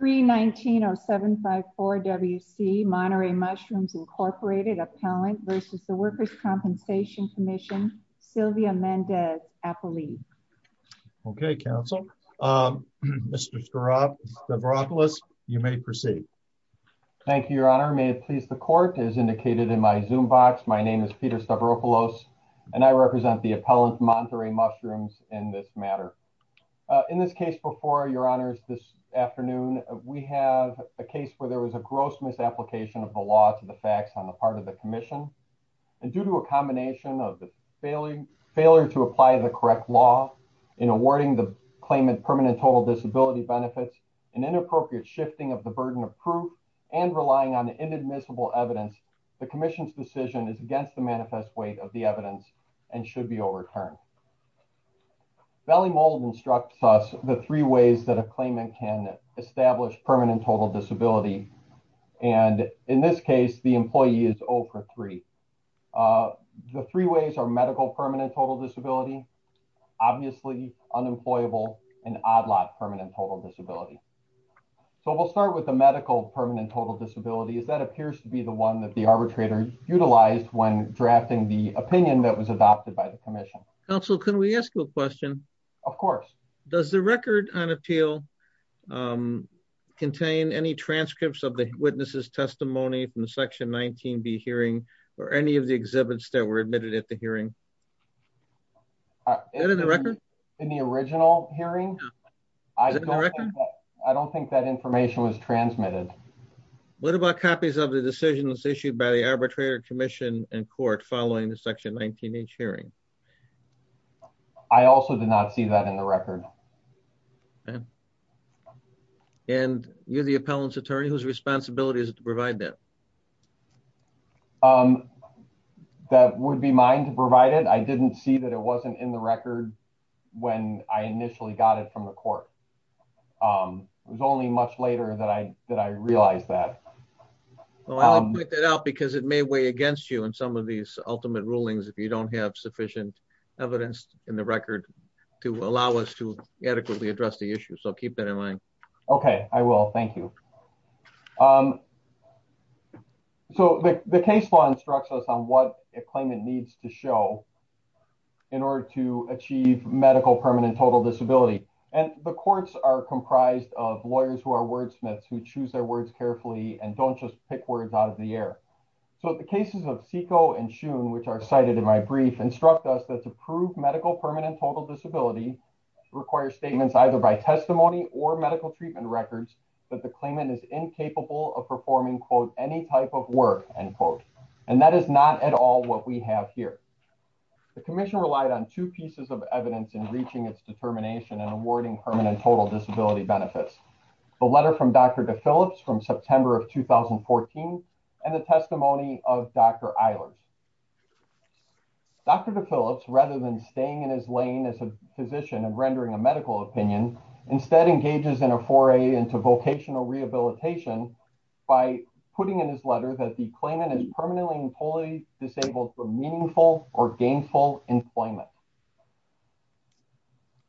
319-0754-WC Monterey Mushrooms, Inc. Appellant v. The Workers' Compensation Commission, Sylvia Mendez-Apolli. Okay, counsel. Mr. Stavropoulos, you may proceed. Thank you, your honor. May it please the court, as indicated in my Zoom box, my name is Peter Stavropoulos, and I represent the appellant, Monterey Mushrooms, in this matter. In this case before your honors this afternoon, we have a case where there was a gross misapplication of the law to the facts on the part of the commission. And due to a combination of the failure to apply the correct law, in awarding the claimant permanent total disability benefits and inappropriate shifting of the burden of proof and relying on inadmissible evidence, the commission's decision is against the manifest weight of the evidence and should be overturned. Valley Mould instructs us the three ways that a claimant can establish permanent total disability. And in this case, the employee is O for three. The three ways are medical permanent total disability, obviously unemployable, and odd lot permanent total disability. So we'll start with the medical permanent total disability as that appears to be the one that the arbitrator utilized when drafting the opinion that was adopted by the commission. Counsel, can we ask you a question? Of course. Does the record on appeal contain any transcripts of the witnesses testimony from the section 19B hearing or any of the exhibits that were admitted at the hearing? Is it in the record? In the original hearing? Is it in the record? I don't think that information was transmitted. What about copies of the decision that's issued by the arbitrator commission and court following the section 19H hearing? I also did not see that in the record. And you're the appellant's attorney whose responsibility is to provide that? That would be mine to provide it. I didn't see that it wasn't in the record when I initially got it from the court. It was only much later that I realized that. Well, I'll point that out because it may weigh against you in some of these ultimate rulings if you don't have sufficient evidence in the record to allow us to adequately address the issue. So keep that in mind. Okay, I will. Thank you. So the case law instructs us on what a claimant needs to show in order to achieve medical permanent total disability. And the courts are comprised of lawyers who are wordsmiths who choose their words carefully and don't just pick words out of the air. So the cases of Seiko and Shoon, which are cited in my brief, instruct us that to prove medical permanent total disability requires statements either by testimony or medical treatment records that the claimant is incapable of performing quote, any type of work, end quote. And that is not at all what we have here. The commission relied on two pieces of evidence in reaching its determination and awarding permanent total disability benefits. The letter from Dr. DePhillips from September of 2014 and the testimony of Dr. Eilers. Dr. DePhillips, rather than staying in his lane as a physician and rendering a medical opinion, instead engages in a foray into vocational rehabilitation by putting in his letter that the claimant is permanently and fully disabled for meaningful or gainful employment.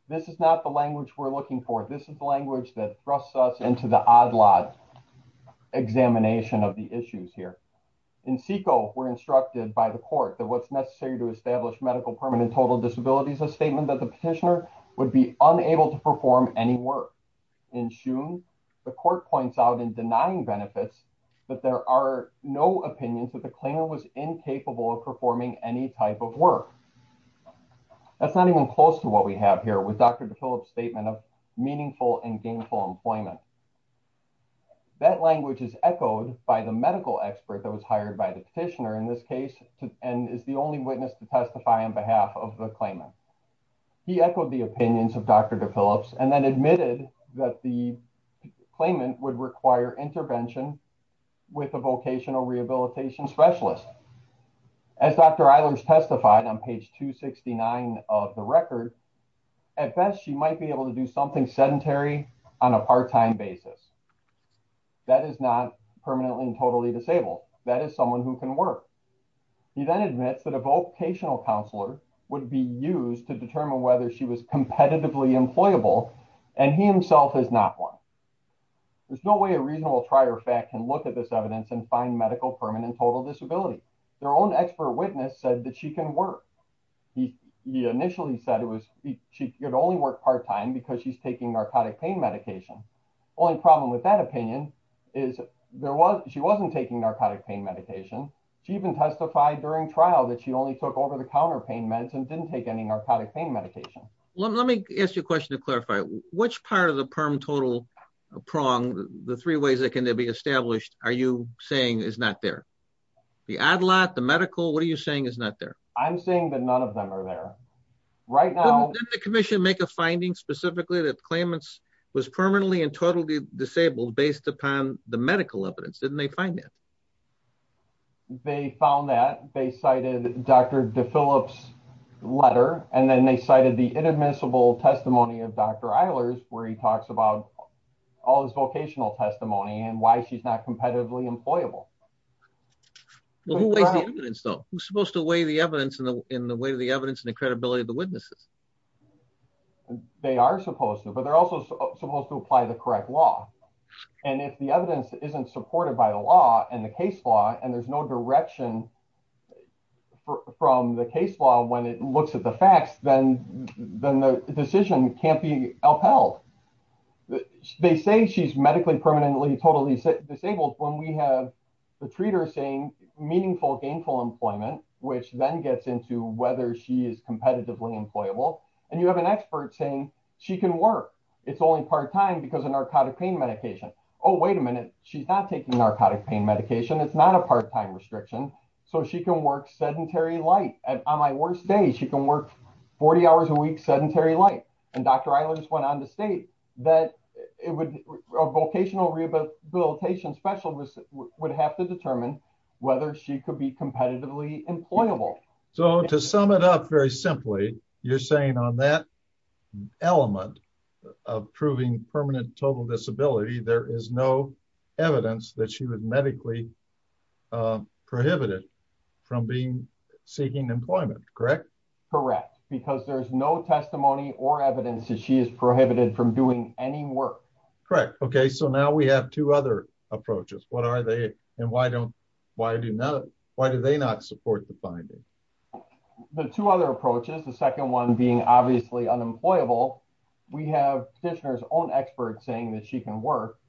This is not the language we're looking for. This is the language that thrusts us into the odd lot examination of the issues here. In Seiko, we're instructed by the court that what's necessary to establish medical permanent total disability is a statement that the petitioner would be unable to perform any work. In Shoon, the court points out in denying benefits that there are no opinions that the claimant was incapable of performing any type of work. That's not even close to what we have here with Dr. DePhillips' statement of meaningful and gainful employment. That language is echoed by the medical expert that was hired by the petitioner in this case and is the only witness to testify on behalf of the claimant. He echoed the opinions of Dr. DePhillips and then admitted that the claimant would require intervention with a vocational rehabilitation specialist. As Dr. Eilers testified on page 269 of the record, at best, she might be able to do something sedentary on a part-time basis. That is not permanently and totally disabled. That is someone who can work. He then admits that a vocational counselor would be used to determine whether she was competitively employable and he himself is not one. There's no way a reasonable trier of fact can look at this evidence and find medical permanent total disability. Their own expert witness said that she can work. He initially said it was, she could only work part-time because she's taking narcotic pain medication. Only problem with that opinion is she wasn't taking narcotic pain medication. She even testified during trial that she only took over-the-counter pain meds and didn't take any narcotic pain medication. Let me ask you a question to clarify. Which part of the perm total prong, the three ways that can there be established, are you saying is not there? The ad-lot, the medical, what are you saying is not there? I'm saying that none of them are there. Right now- Didn't the commission make a finding specifically that Clamence was permanently and totally disabled based upon the medical evidence? Didn't they find that? They found that. They cited Dr. DeFillips' letter and then they cited the inadmissible testimony of Dr. Eilers where he talks about all his vocational testimony and why she's not competitively employable. Well, who weighs the evidence though? Who's supposed to weigh the evidence in the way of the evidence and the credibility of the witnesses? They are supposed to, but they're also supposed to apply the correct law. And if the evidence isn't supported by the law and the case law, and there's no direction from the case law when it looks at the facts, then the decision can't be upheld. They say she's medically permanently totally disabled when we have the treater saying meaningful gainful employment, which then gets into whether she is competitively employable. And you have an expert saying she can work. It's only part-time because of narcotic pain medication. Oh, wait a minute. She's not taking narcotic pain medication. It's not a part-time restriction. So she can work sedentary life. And on my worst day, she can work 40 hours a week sedentary life. And Dr. Eilers went on to state that a vocational rehabilitation specialist would have to determine whether she could be competitively employable. So to sum it up very simply, you're saying on that element of proving permanent total disability, there is no evidence that she would medically prohibited from seeking employment, correct? Correct. Because there's no testimony or evidence that she is prohibited from doing any work. Correct. Okay, so now we have two other approaches. And why do they not support the finding? The two other approaches, the second one being obviously unemployable. We have petitioners own experts saying that she can work.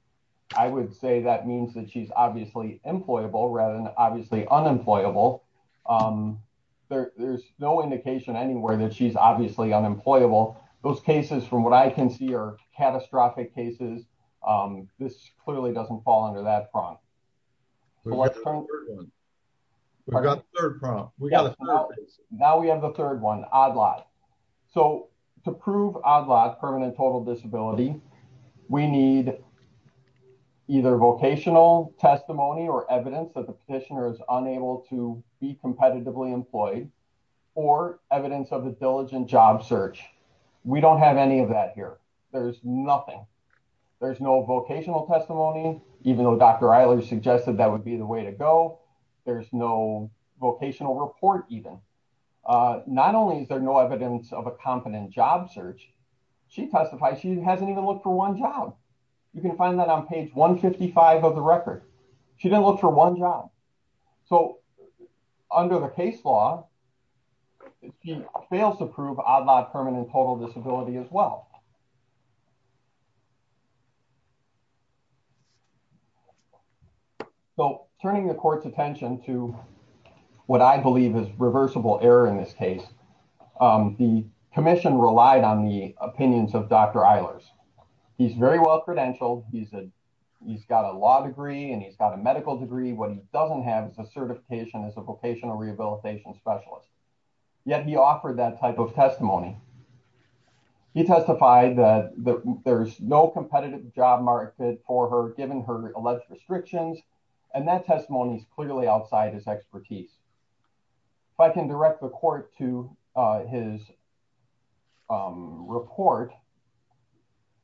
I would say that means that she's obviously employable rather than obviously unemployable. There's no indication anywhere that she's obviously unemployable. Those cases from what I can see are catastrophic cases. This clearly doesn't fall under that front. So what's the third one? We've got the third front. Now we have the third one, ODLAT. So to prove ODLAT, permanent total disability, we need either vocational testimony or evidence that the petitioner is unable to be competitively employed or evidence of a diligent job search. We don't have any of that here. There's nothing. There's no vocational testimony, even though Dr. Eilers suggested that would be the way to go. There's no vocational report even. Not only is there no evidence of a competent job search, she testified she hasn't even looked for one job. You can find that on page 155 of the record. She didn't look for one job. So under the case law, she fails to prove ODLAT permanent total disability as well. So turning the court's attention to what I believe is reversible error in this case, the commission relied on the opinions of Dr. Eilers. He's very well credentialed. He's got a law degree and he's got a medical degree. What he doesn't have is a certification as a vocational rehabilitation specialist. Yet he offered that type of testimony. He testified that there's no competitive job search job market for her given her alleged restrictions. And that testimony is clearly outside his expertise. If I can direct the court to his report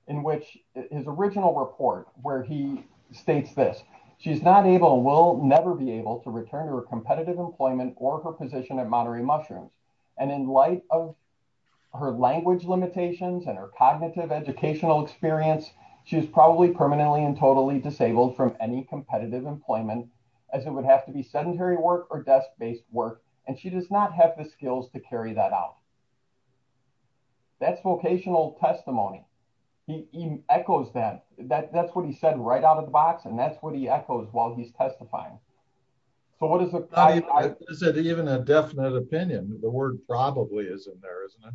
in which his original report, where he states this, she's not able and will never be able to return to her competitive employment or her position at Monterey Mushrooms. And in light of her language limitations and her cognitive educational experience, she was probably permanently and totally disabled from any competitive employment as it would have to be sedentary work or desk-based work. And she does not have the skills to carry that out. That's vocational testimony. He echoes that. That's what he said right out of the box. And that's what he echoes while he's testifying. So what is the- Is it even a definite opinion? The word probably is in there, isn't it?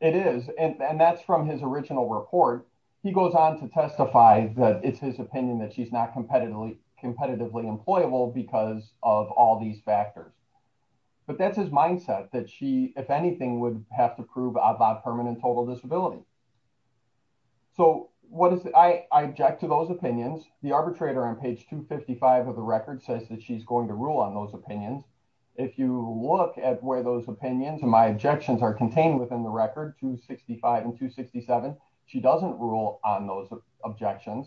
It is. And that's from his original report. He goes on to testify that it's his opinion that she's not competitively employable because of all these factors. But that's his mindset that she, if anything, would have to prove about permanent total disability. So I object to those opinions. The arbitrator on page 255 of the record says that she's going to rule on those opinions. If you look at where those opinions and my objections are contained within the record, 265 and 267, she doesn't rule on those objections.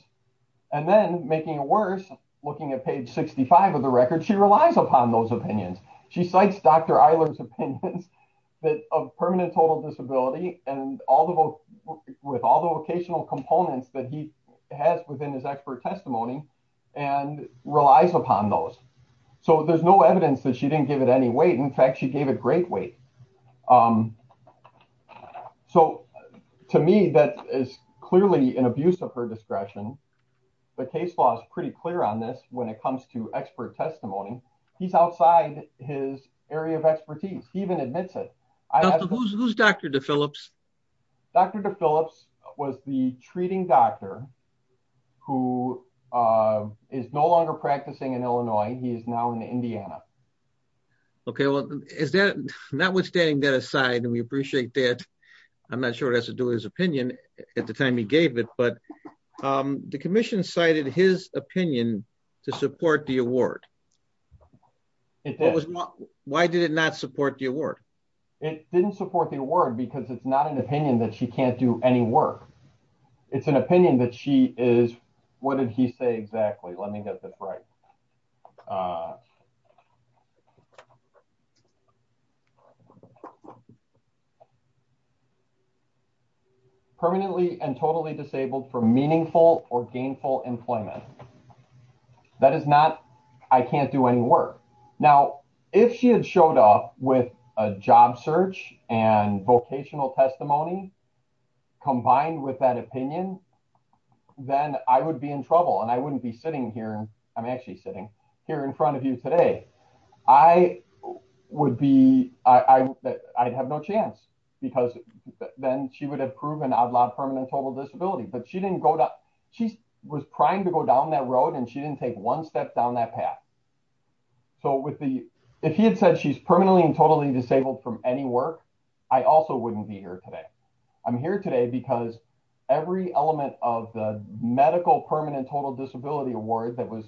And then making it worse, looking at page 65 of the record, she relies upon those opinions. She cites Dr. Eiler's opinions that of permanent total disability and with all the vocational components that he has within his expert testimony and relies upon those. So there's no evidence that she didn't give it any weight. In fact, she gave it great weight. So to me, that is clearly an abuse of her discretion. The case law is pretty clear on this when it comes to expert testimony. He's outside his area of expertise. He even admits it. I have- Who's Dr. DePhillips? Dr. DePhillips was the treating doctor who is no longer practicing in Illinois. He is now in Indiana. Yeah. Okay, well, notwithstanding that aside, and we appreciate that, I'm not sure it has to do with his opinion at the time he gave it, but the commission cited his opinion to support the award. It did. Why did it not support the award? It didn't support the award because it's not an opinion that she can't do any work. It's an opinion that she is, what did he say exactly? Let me get this right. Okay. Permanently and totally disabled for meaningful or gainful employment. That is not, I can't do any work. Now, if she had showed up with a job search and vocational testimony combined with that opinion, then I would be in trouble and I wouldn't be sitting here. I'm actually sitting here in front of you today. I would be, I'd have no chance because then she would have proven ad lib permanent total disability, but she didn't go down. She was trying to go down that road and she didn't take one step down that path. So with the, if he had said she's permanently and totally disabled from any work, I also wouldn't be here today. I'm here today because every element of the medical permanent total disability award that was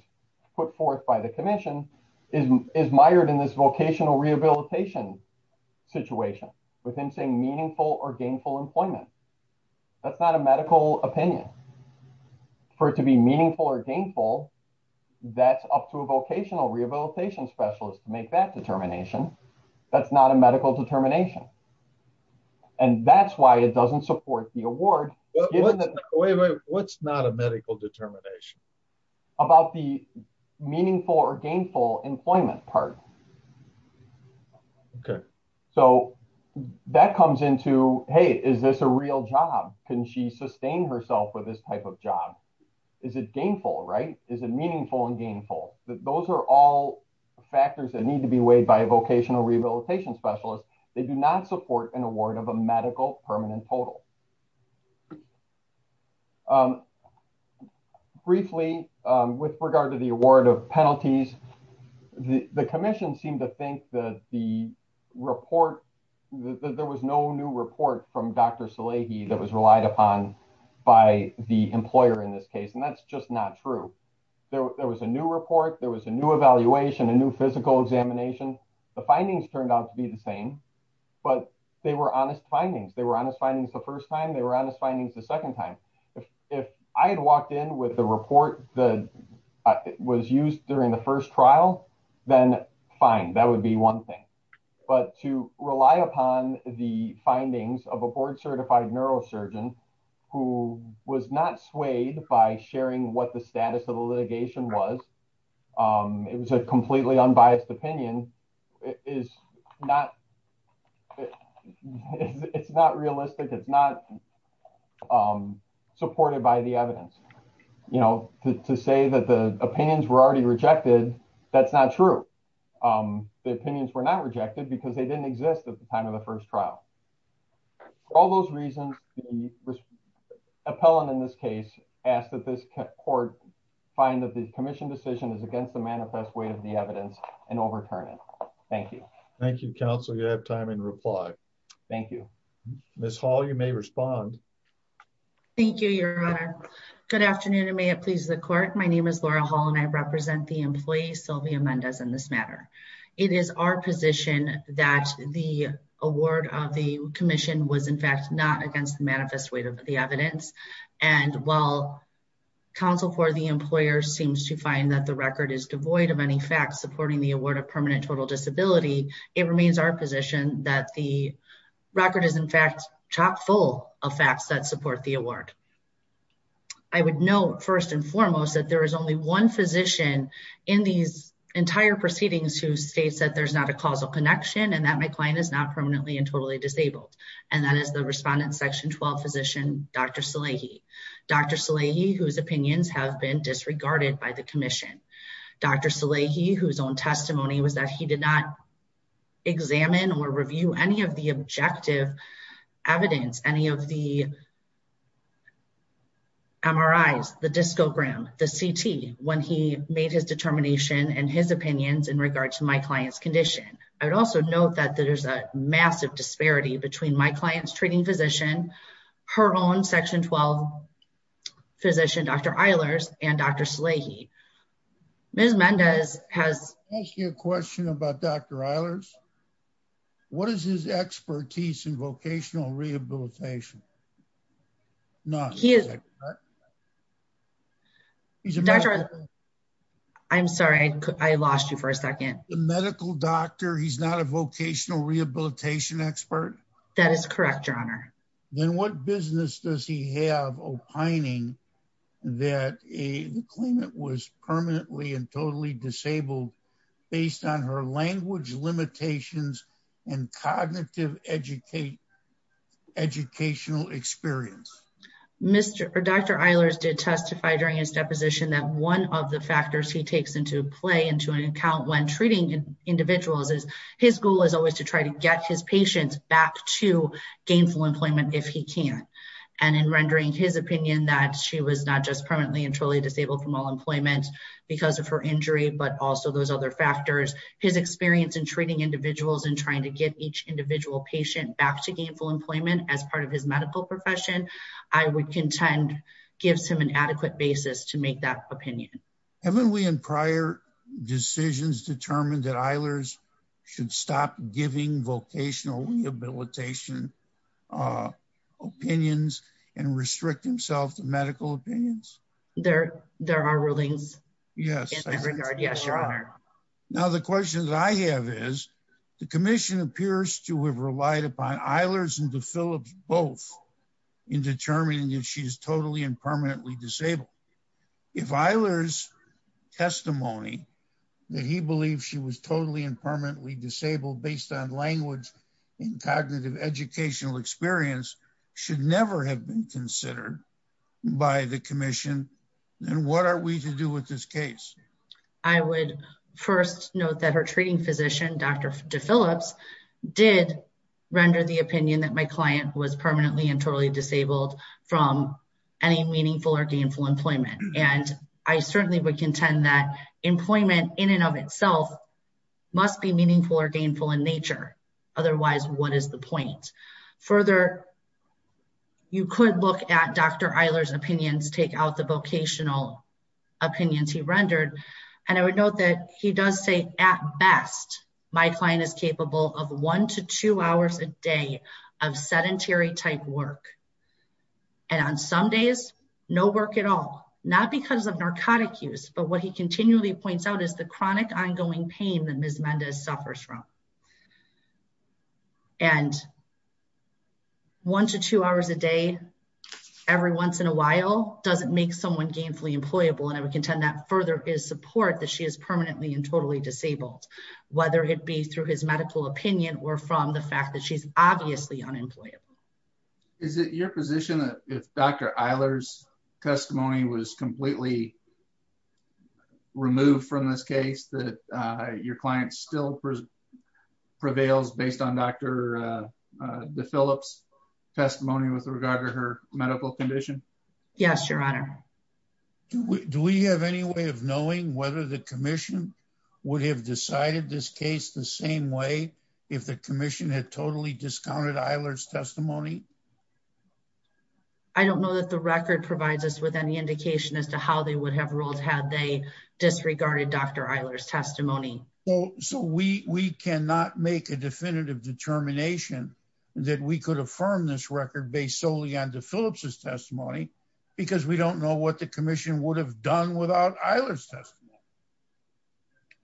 put forth by the commission is mired in this vocational rehabilitation situation within saying meaningful or gainful employment. That's not a medical opinion. For it to be meaningful or gainful, that's up to a vocational rehabilitation specialist to make that determination. That's not a medical determination. And that's why it doesn't support the award. Wait, wait, what's not a medical determination? About the meaningful or gainful employment part. Okay. So that comes into, hey, is this a real job? Can she sustain herself with this type of job? Is it gainful, right? Is it meaningful and gainful? Those are all factors that need to be weighed by a vocational rehabilitation specialist. They do not support an award of a medical permanent total. Briefly, with regard to the award of penalties, the commission seemed to think that the report, that there was no new report from Dr. Salehi that was relied upon by the employer in this case. And that's just not true. There was a new report. There was a new evaluation, a new physical examination. The findings turned out to be the same, but they were honest findings. They were honest findings the first time. They were honest findings the second time. If I had walked in with the report that was used during the first trial, then fine, that would be one thing. But to rely upon the findings of a board-certified neurosurgeon who was not swayed by sharing what the status of the litigation was, it was a completely unbiased opinion, it's not realistic. It's not supported by the evidence. To say that the opinions were already rejected, that's not true. The opinions were not rejected because they didn't exist at the time of the first trial. For all those reasons, the appellant in this case asked that this court find that the commission decision is against the manifest way of the evidence and overturn it. Thank you. Thank you, counsel. You have time in reply. Thank you. Ms. Hall, you may respond. Thank you, your honor. Good afternoon and may it please the court. My name is Laura Hall and I represent the employee, Sylvia Mendez in this matter. It is our position that the award of the commission was in fact not against the manifest way of the evidence. And while counsel for the employer seems to find that the record is devoid of any facts supporting the award of permanent total disability, it remains our position that the record is in fact chock full of facts that support the award. I would know first and foremost that there is only one physician in these entire proceedings who states that there's not a causal connection and that my client is not permanently and totally disabled. And that is the respondent section 12 physician, Dr. Salehi. Dr. Salehi, whose opinions have been disregarded by the commission. Dr. Salehi, whose own testimony was that he did not examine or review any of the objective evidence, any of the MRIs, the discogram, the CT, when he made his determination and his opinions in regards to my client's condition. I would also note that there's a massive disparity between my client's treating physician, her own section 12 physician, Dr. Eilers and Dr. Salehi. Ms. Mendez has- I have a question about Dr. Eilers. What is his expertise in vocational rehabilitation? No. He is- He's a- Dr. Eilers, I'm sorry, I lost you for a second. The medical doctor, he's not a vocational rehabilitation expert? That is correct, your honor. Then what business does he have opining that the claimant was permanently and totally disabled based on her language limitations and cognitive educational experience? Dr. Eilers did testify during his deposition that one of the factors he takes into play into an account when treating individuals is his goal is always to try to get his patients back to gainful employment if he can. And in rendering his opinion that she was not just permanently and totally disabled from all employment because of her injury, but also those other factors, his experience in treating individuals and trying to get each individual patient back to gainful employment as part of his medical profession, I would contend gives him an adequate basis to make that opinion. Haven't we in prior decisions determined that Eilers should stop giving vocational rehabilitation opinions and restrict himself to medical opinions? There are rulings. Yes. In that regard, yes, your honor. Now, the question that I have is the commission appears to have relied upon Eilers and DePhillips both in determining if she's totally and permanently disabled. If Eilers' testimony that he believed she was totally and permanently disabled based on language and cognitive educational experience should never have been considered by the commission, then what are we to do with this case? I would first note that her treating physician, Dr. DePhillips, did render the opinion that my client was permanently and totally disabled from any meaningful or gainful employment. And I certainly would contend that employment in and of itself must be meaningful or gainful in nature. Otherwise, what is the point? Further, you could look at Dr. Eilers' opinions, take out the vocational opinions he rendered. And I would note that he does say at best, my client is capable of one to two hours a day of sedentary type work. And on some days, no work at all, not because of narcotic use, but what he continually points out is the chronic ongoing pain that Ms. Mendez suffers from. And one to two hours a day, every once in a while, doesn't make someone gainfully employable. And I would contend that further his support that she is permanently and totally disabled, whether it be through his medical opinion or from the fact that she's obviously unemployable. Is it your position that if Dr. Eilers' testimony was completely removed from this case, that your client still prevails based on Dr. DeFillips' testimony with regard to her medical condition? Yes, Your Honor. Do we have any way of knowing whether the commission would have decided this case the same way if the commission had totally discounted Eilers' testimony? I don't know that the record provides us with any indication as to how they would have ruled had they disregarded Dr. Eilers' testimony. So we cannot make a definitive determination that we could affirm this record based solely on DeFillips' testimony because we don't know what the commission would have done without Eilers' testimony.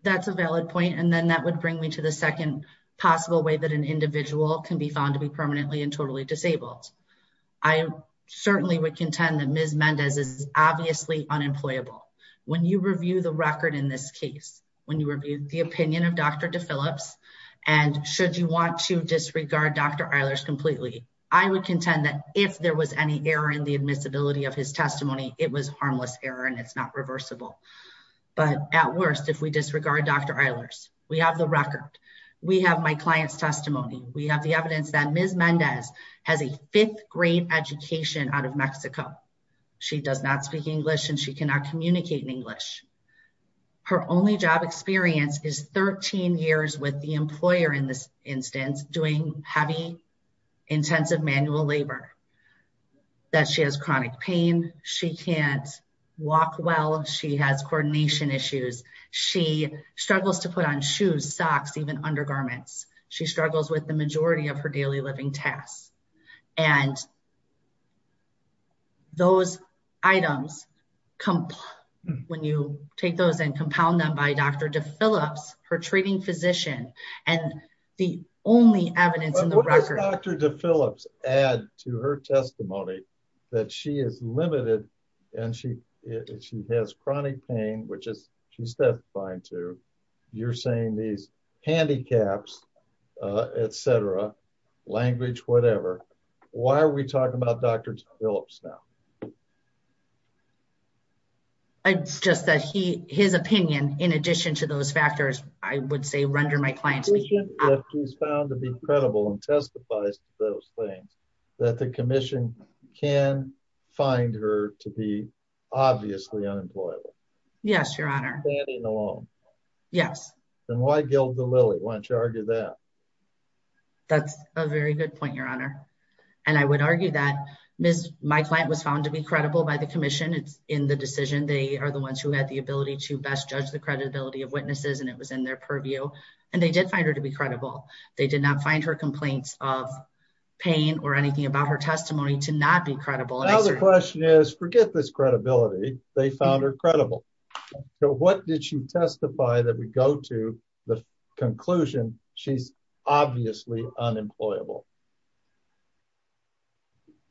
That's a valid point. And then that would bring me to the second possible way that an individual can be found to be permanently and totally disabled. I certainly would contend that Ms. Mendez is obviously unemployable. When you review the record in this case, when you review the opinion of Dr. DeFillips, and should you want to disregard Dr. Eilers completely, I would contend that if there was any error in the admissibility of his testimony, it was harmless error and it's not reversible. But at worst, if we disregard Dr. Eilers, we have the record, we have my client's testimony, we have the evidence that Ms. Mendez has a fifth grade education out of Mexico. She does not speak English and she cannot communicate in English. Her only job experience is 13 years with the employer in this instance, doing heavy intensive manual labor. That she has chronic pain, she can't walk well, she has coordination issues. She struggles to put on shoes, socks, even undergarments. She struggles with the majority of her daily living tasks. And those items, when you take those and compound them by Dr. DeFillips, her treating physician, and the only evidence in the record- What does Dr. DeFillips add to her testimony that she is limited and she has chronic pain, which she's testifying to. You're saying these handicaps, et cetera, language, whatever. Why are we talking about Dr. DeFillips now? Just that his opinion, in addition to those factors, I would say, render my clients- In addition, that she's found to be credible and testifies to those things, that the commission can find her to be obviously unemployable. Yes, Your Honor. She's standing alone. Yes. Then why gild the lily? Why don't you argue that? That's a very good point, Your Honor. And I would argue that my client was found to be credible by the commission in the decision. They are the ones who had the ability to best judge the credibility of witnesses and it was in their purview. And they did find her to be credible. They did not find her complaints of pain or anything about her testimony to not be credible. Now the question is, forget this credibility. They found her credible. So what did she testify that would go to the conclusion? She's obviously unemployable.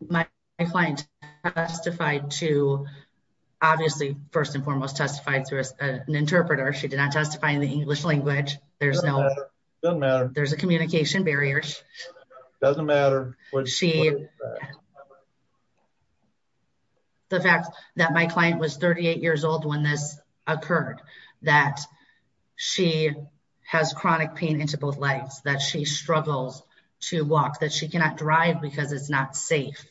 My client testified to, obviously, first and foremost, testified through an interpreter. She did not testify in the English language. There's no- Doesn't matter. There's a communication barrier. Doesn't matter. The fact that my client was 38 years old when this occurred, that she has chronic pain into both legs, that she struggles to walk, that she cannot drive because it's not safe,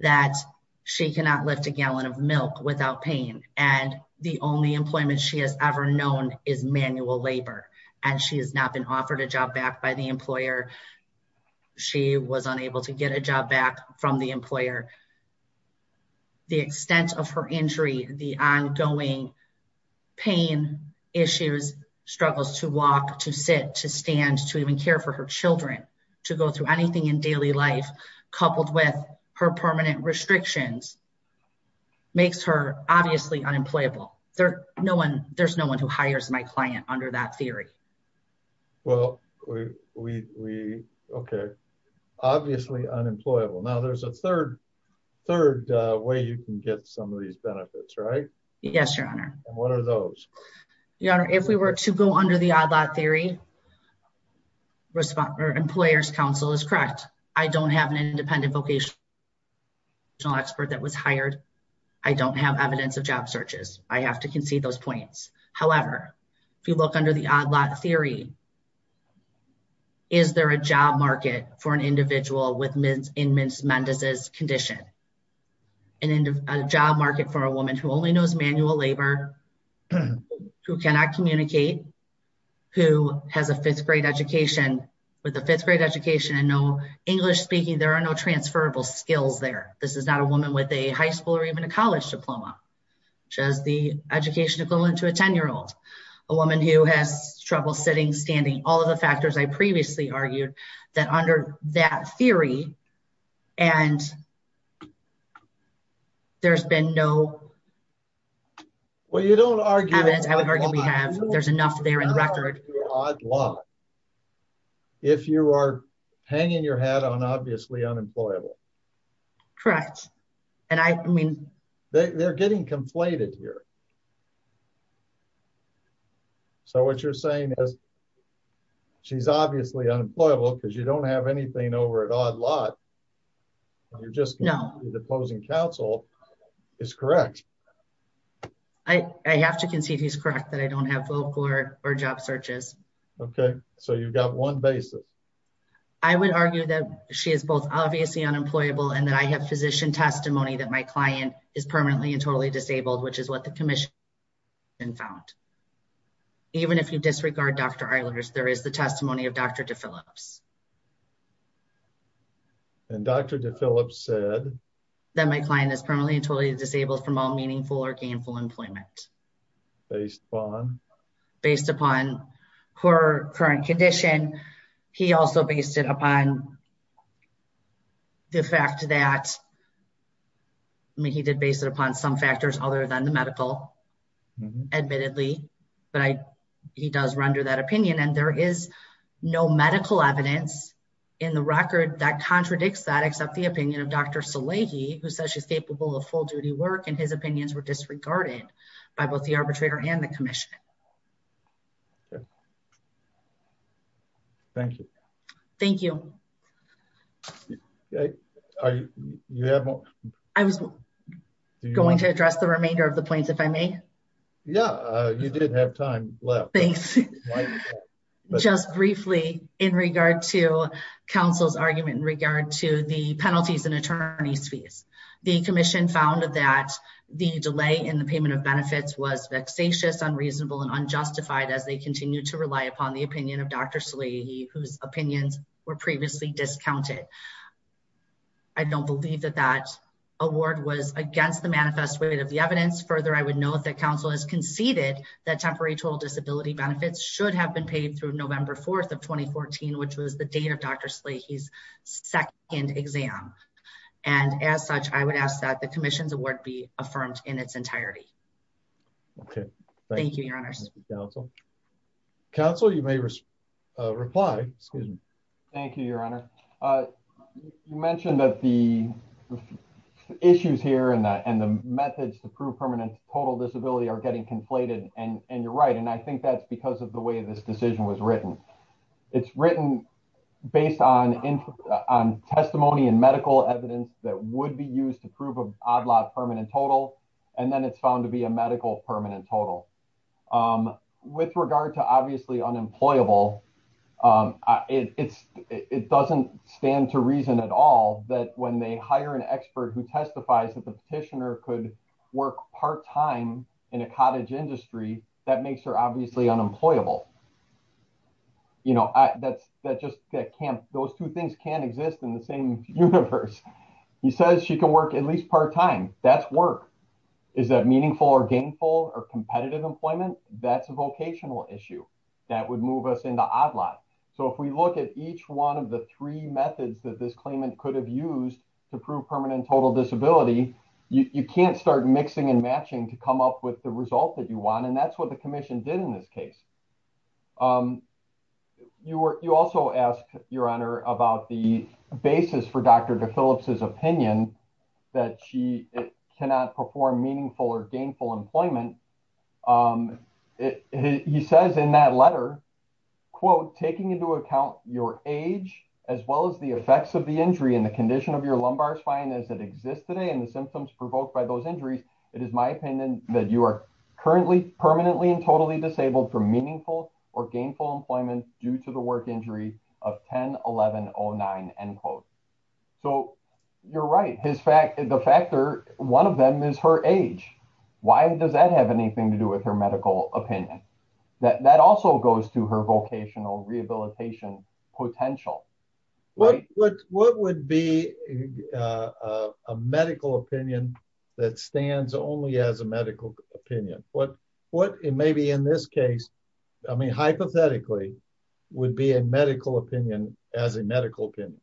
that she cannot lift a gallon of milk without pain. And the only employment she has ever known is manual labor. And she has not been offered a job back by the employer. She was unable to get a job back from the employer. The extent of her injury, the ongoing pain issues, struggles to walk, to sit, to stand, to even care for her children, to go through anything in daily life coupled with her permanent restrictions makes her obviously unemployable. There's no one who hires my client under that theory. Well, we, okay. Obviously unemployable. Now there's a third way you can get some of these benefits, right? Yes, your honor. And what are those? Your honor, if we were to go under the odd lot theory, respond or employer's counsel is correct. I don't have an independent vocational expert that was hired. I don't have evidence of job searches. I have to concede those points. However, if you look under the odd lot theory, is there a job market for an individual in Ms. Mendez's condition? And in a job market for a woman who only knows manual labor, who cannot communicate, who has a fifth grade education, with a fifth grade education and no English speaking, there are no transferable skills there. This is not a woman with a high school or even a college diploma, just the education equivalent to a 10 year old. A woman who has trouble sitting, standing, all of the factors I previously argued that under that theory, and there's been no- Well, you don't argue- Evidence I would argue we have, there's enough there in the record. Odd lot. If you are hanging your hat on obviously unemployable. Correct. And I mean- They're getting conflated here. So what you're saying is she's obviously unemployable because you don't have anything over at odd lot. You're just- No. The opposing counsel is correct. I have to concede he's correct that I don't have full court or job searches. Okay. So you've got one basis. I would argue that she is both obviously unemployable and that I have physician testimony that my client is permanently and totally disabled, which is what the commission found. Even if you disregard Dr. Eilers, there is the testimony of Dr. DePhillips. And Dr. DePhillips said- That my client is permanently and totally disabled from all meaningful or gainful employment. Based upon? Based upon her current condition. He also based it upon the fact that, I mean, he did base it upon some factors other than the medical admittedly, but he does render that opinion. And there is no medical evidence in the record that contradicts that, except the opinion of Dr. Salehi, who says she's capable of full duty work. And his opinions were disregarded by both the arbitrator and the commission. Thank you. Thank you. Are you, you haven't- I was going to address the remainder of the points, if I may. Yeah, you did have time left. Thanks. Just briefly in regard to counsel's argument in regard to the penalties and attorney's fees. The commission found that the delay in the payment of benefits was vexatious, unreasonable and unjustified as they continue to rely upon the opinion of Dr. Salehi, whose opinions were previously discounted. I don't believe that that award was against the manifest way of the evidence. Further, I would note that council has conceded that temporary total disability benefits should have been paid through November 4th of 2014, which was the date of Dr. Salehi's second exam. And as such, I would ask that the commission's award be affirmed in its entirety. Okay. Thank you, your honors. Thank you, counsel. Counsel, you may reply, excuse me. Thank you, your honor. You mentioned that the issues here and the methods to prove permanent total disability are getting conflated and you're right. And I think that's because of the way this decision was written. It's written based on testimony and medical evidence that would be used to prove an odd lot permanent total. And then it's found to be a medical permanent total. With regard to obviously unemployable, it doesn't stand to reason at all that when they hire an expert who testifies that the petitioner could work part-time in a cottage industry, that makes her obviously unemployable. Those two things can't exist in the same universe. He says she can work at least part-time, that's work. Is that meaningful or gainful or competitive employment? That's a vocational issue that would move us into odd lot. So if we look at each one of the three methods that this claimant could have used to prove permanent total disability, you can't start mixing and matching to come up with the result that you want. And that's what the commission did in this case. You also asked your honor about the basis for Dr. DePhillips' opinion that she cannot perform meaningful or gainful employment. And he says in that letter, quote, taking into account your age as well as the effects of the injury and the condition of your lumbar spine as it exists today and the symptoms provoked by those injuries, it is my opinion that you are currently, permanently and totally disabled from meaningful or gainful employment due to the work injury of 10-1109, end quote. So you're right, the factor, one of them is her age. Why does that have anything to do with her medical opinion? That also goes to her vocational rehabilitation potential. Right? What would be a medical opinion that stands only as a medical opinion? What, and maybe in this case, I mean, hypothetically, would be a medical opinion as a medical opinion?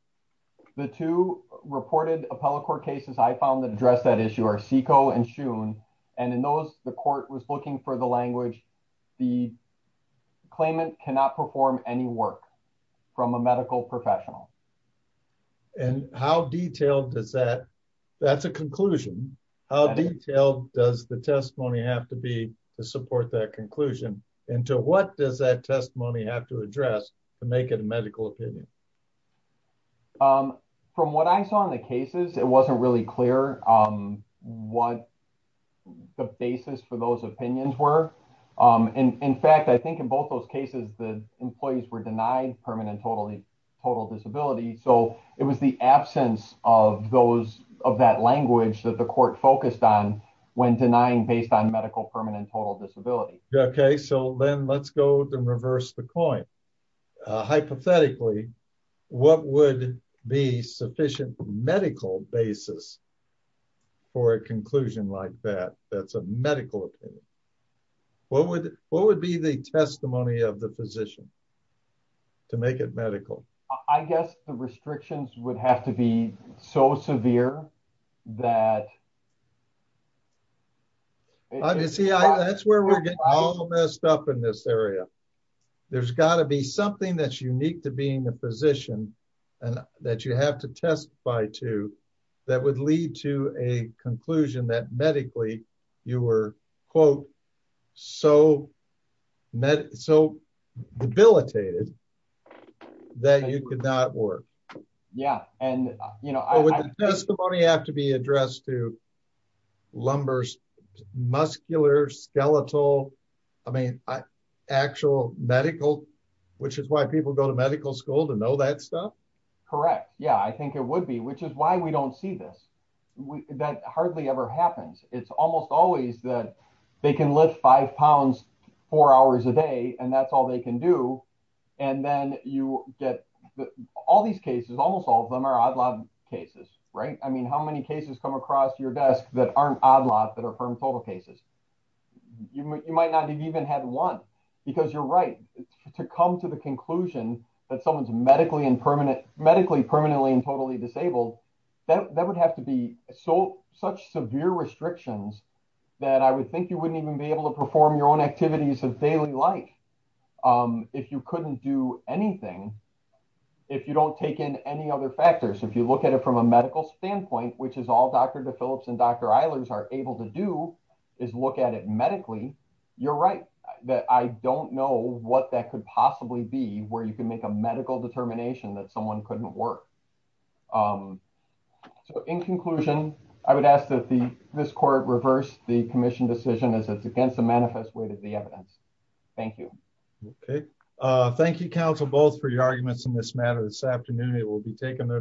The two reported appellate court cases I found that addressed that issue are SICO and SHUN. And in those, the court was looking for the language, the claimant cannot perform any work from a medical professional. And how detailed does that, that's a conclusion. How detailed does the testimony have to be to support that conclusion? And to what does that testimony have to address to make it a medical opinion? From what I saw in the cases, it wasn't really clear what the basis for those opinions were. In fact, I think in both those cases, the employees were denied permanent total disability. So it was the absence of those, of that language that the court focused on when denying based on medical permanent total disability. Yeah, okay. So then let's go and reverse the coin. Hypothetically, what would be sufficient medical basis for a conclusion like that? That's a medical opinion. What would be the testimony of the physician to make it medical? I guess the restrictions would have to be so severe that. I mean, see, that's where we're getting all messed up in this area. There's gotta be something that's unique to being a physician and that you have to testify to that would lead to a conclusion that medically you were, quote, so debilitated that you could not work. Yeah, and, you know, I- Would the testimony have to be addressed to lumbar, muscular, skeletal? I mean, actual medical, which is why people go to medical school to know that stuff? Correct, yeah, I think it would be, which is why we don't see this. That hardly ever happens. It's almost always that they can lift five pounds four hours a day and that's all they can do. And then you get all these cases, almost all of them are odd lot cases, right? I mean, how many cases come across your desk that aren't odd lot that are permanent total cases? You might not have even had one because you're right. To come to the conclusion that someone's medically and permanently and totally disabled, that would have to be such severe restrictions that I would think you wouldn't even be able to perform your own activities of daily life. If you couldn't do anything, if you don't take in any other factors, if you look at it from a medical standpoint, which is all Dr. DePhillips and Dr. Eilers are able to do, is look at it medically, you're right. That I don't know what that could possibly be where you can make a medical determination that someone couldn't work. So in conclusion, I would ask that this court reverse the commission decision as it's against the manifest way to the evidence. Thank you. Thank you, counsel, both for your arguments in this matter this afternoon. It will be taken.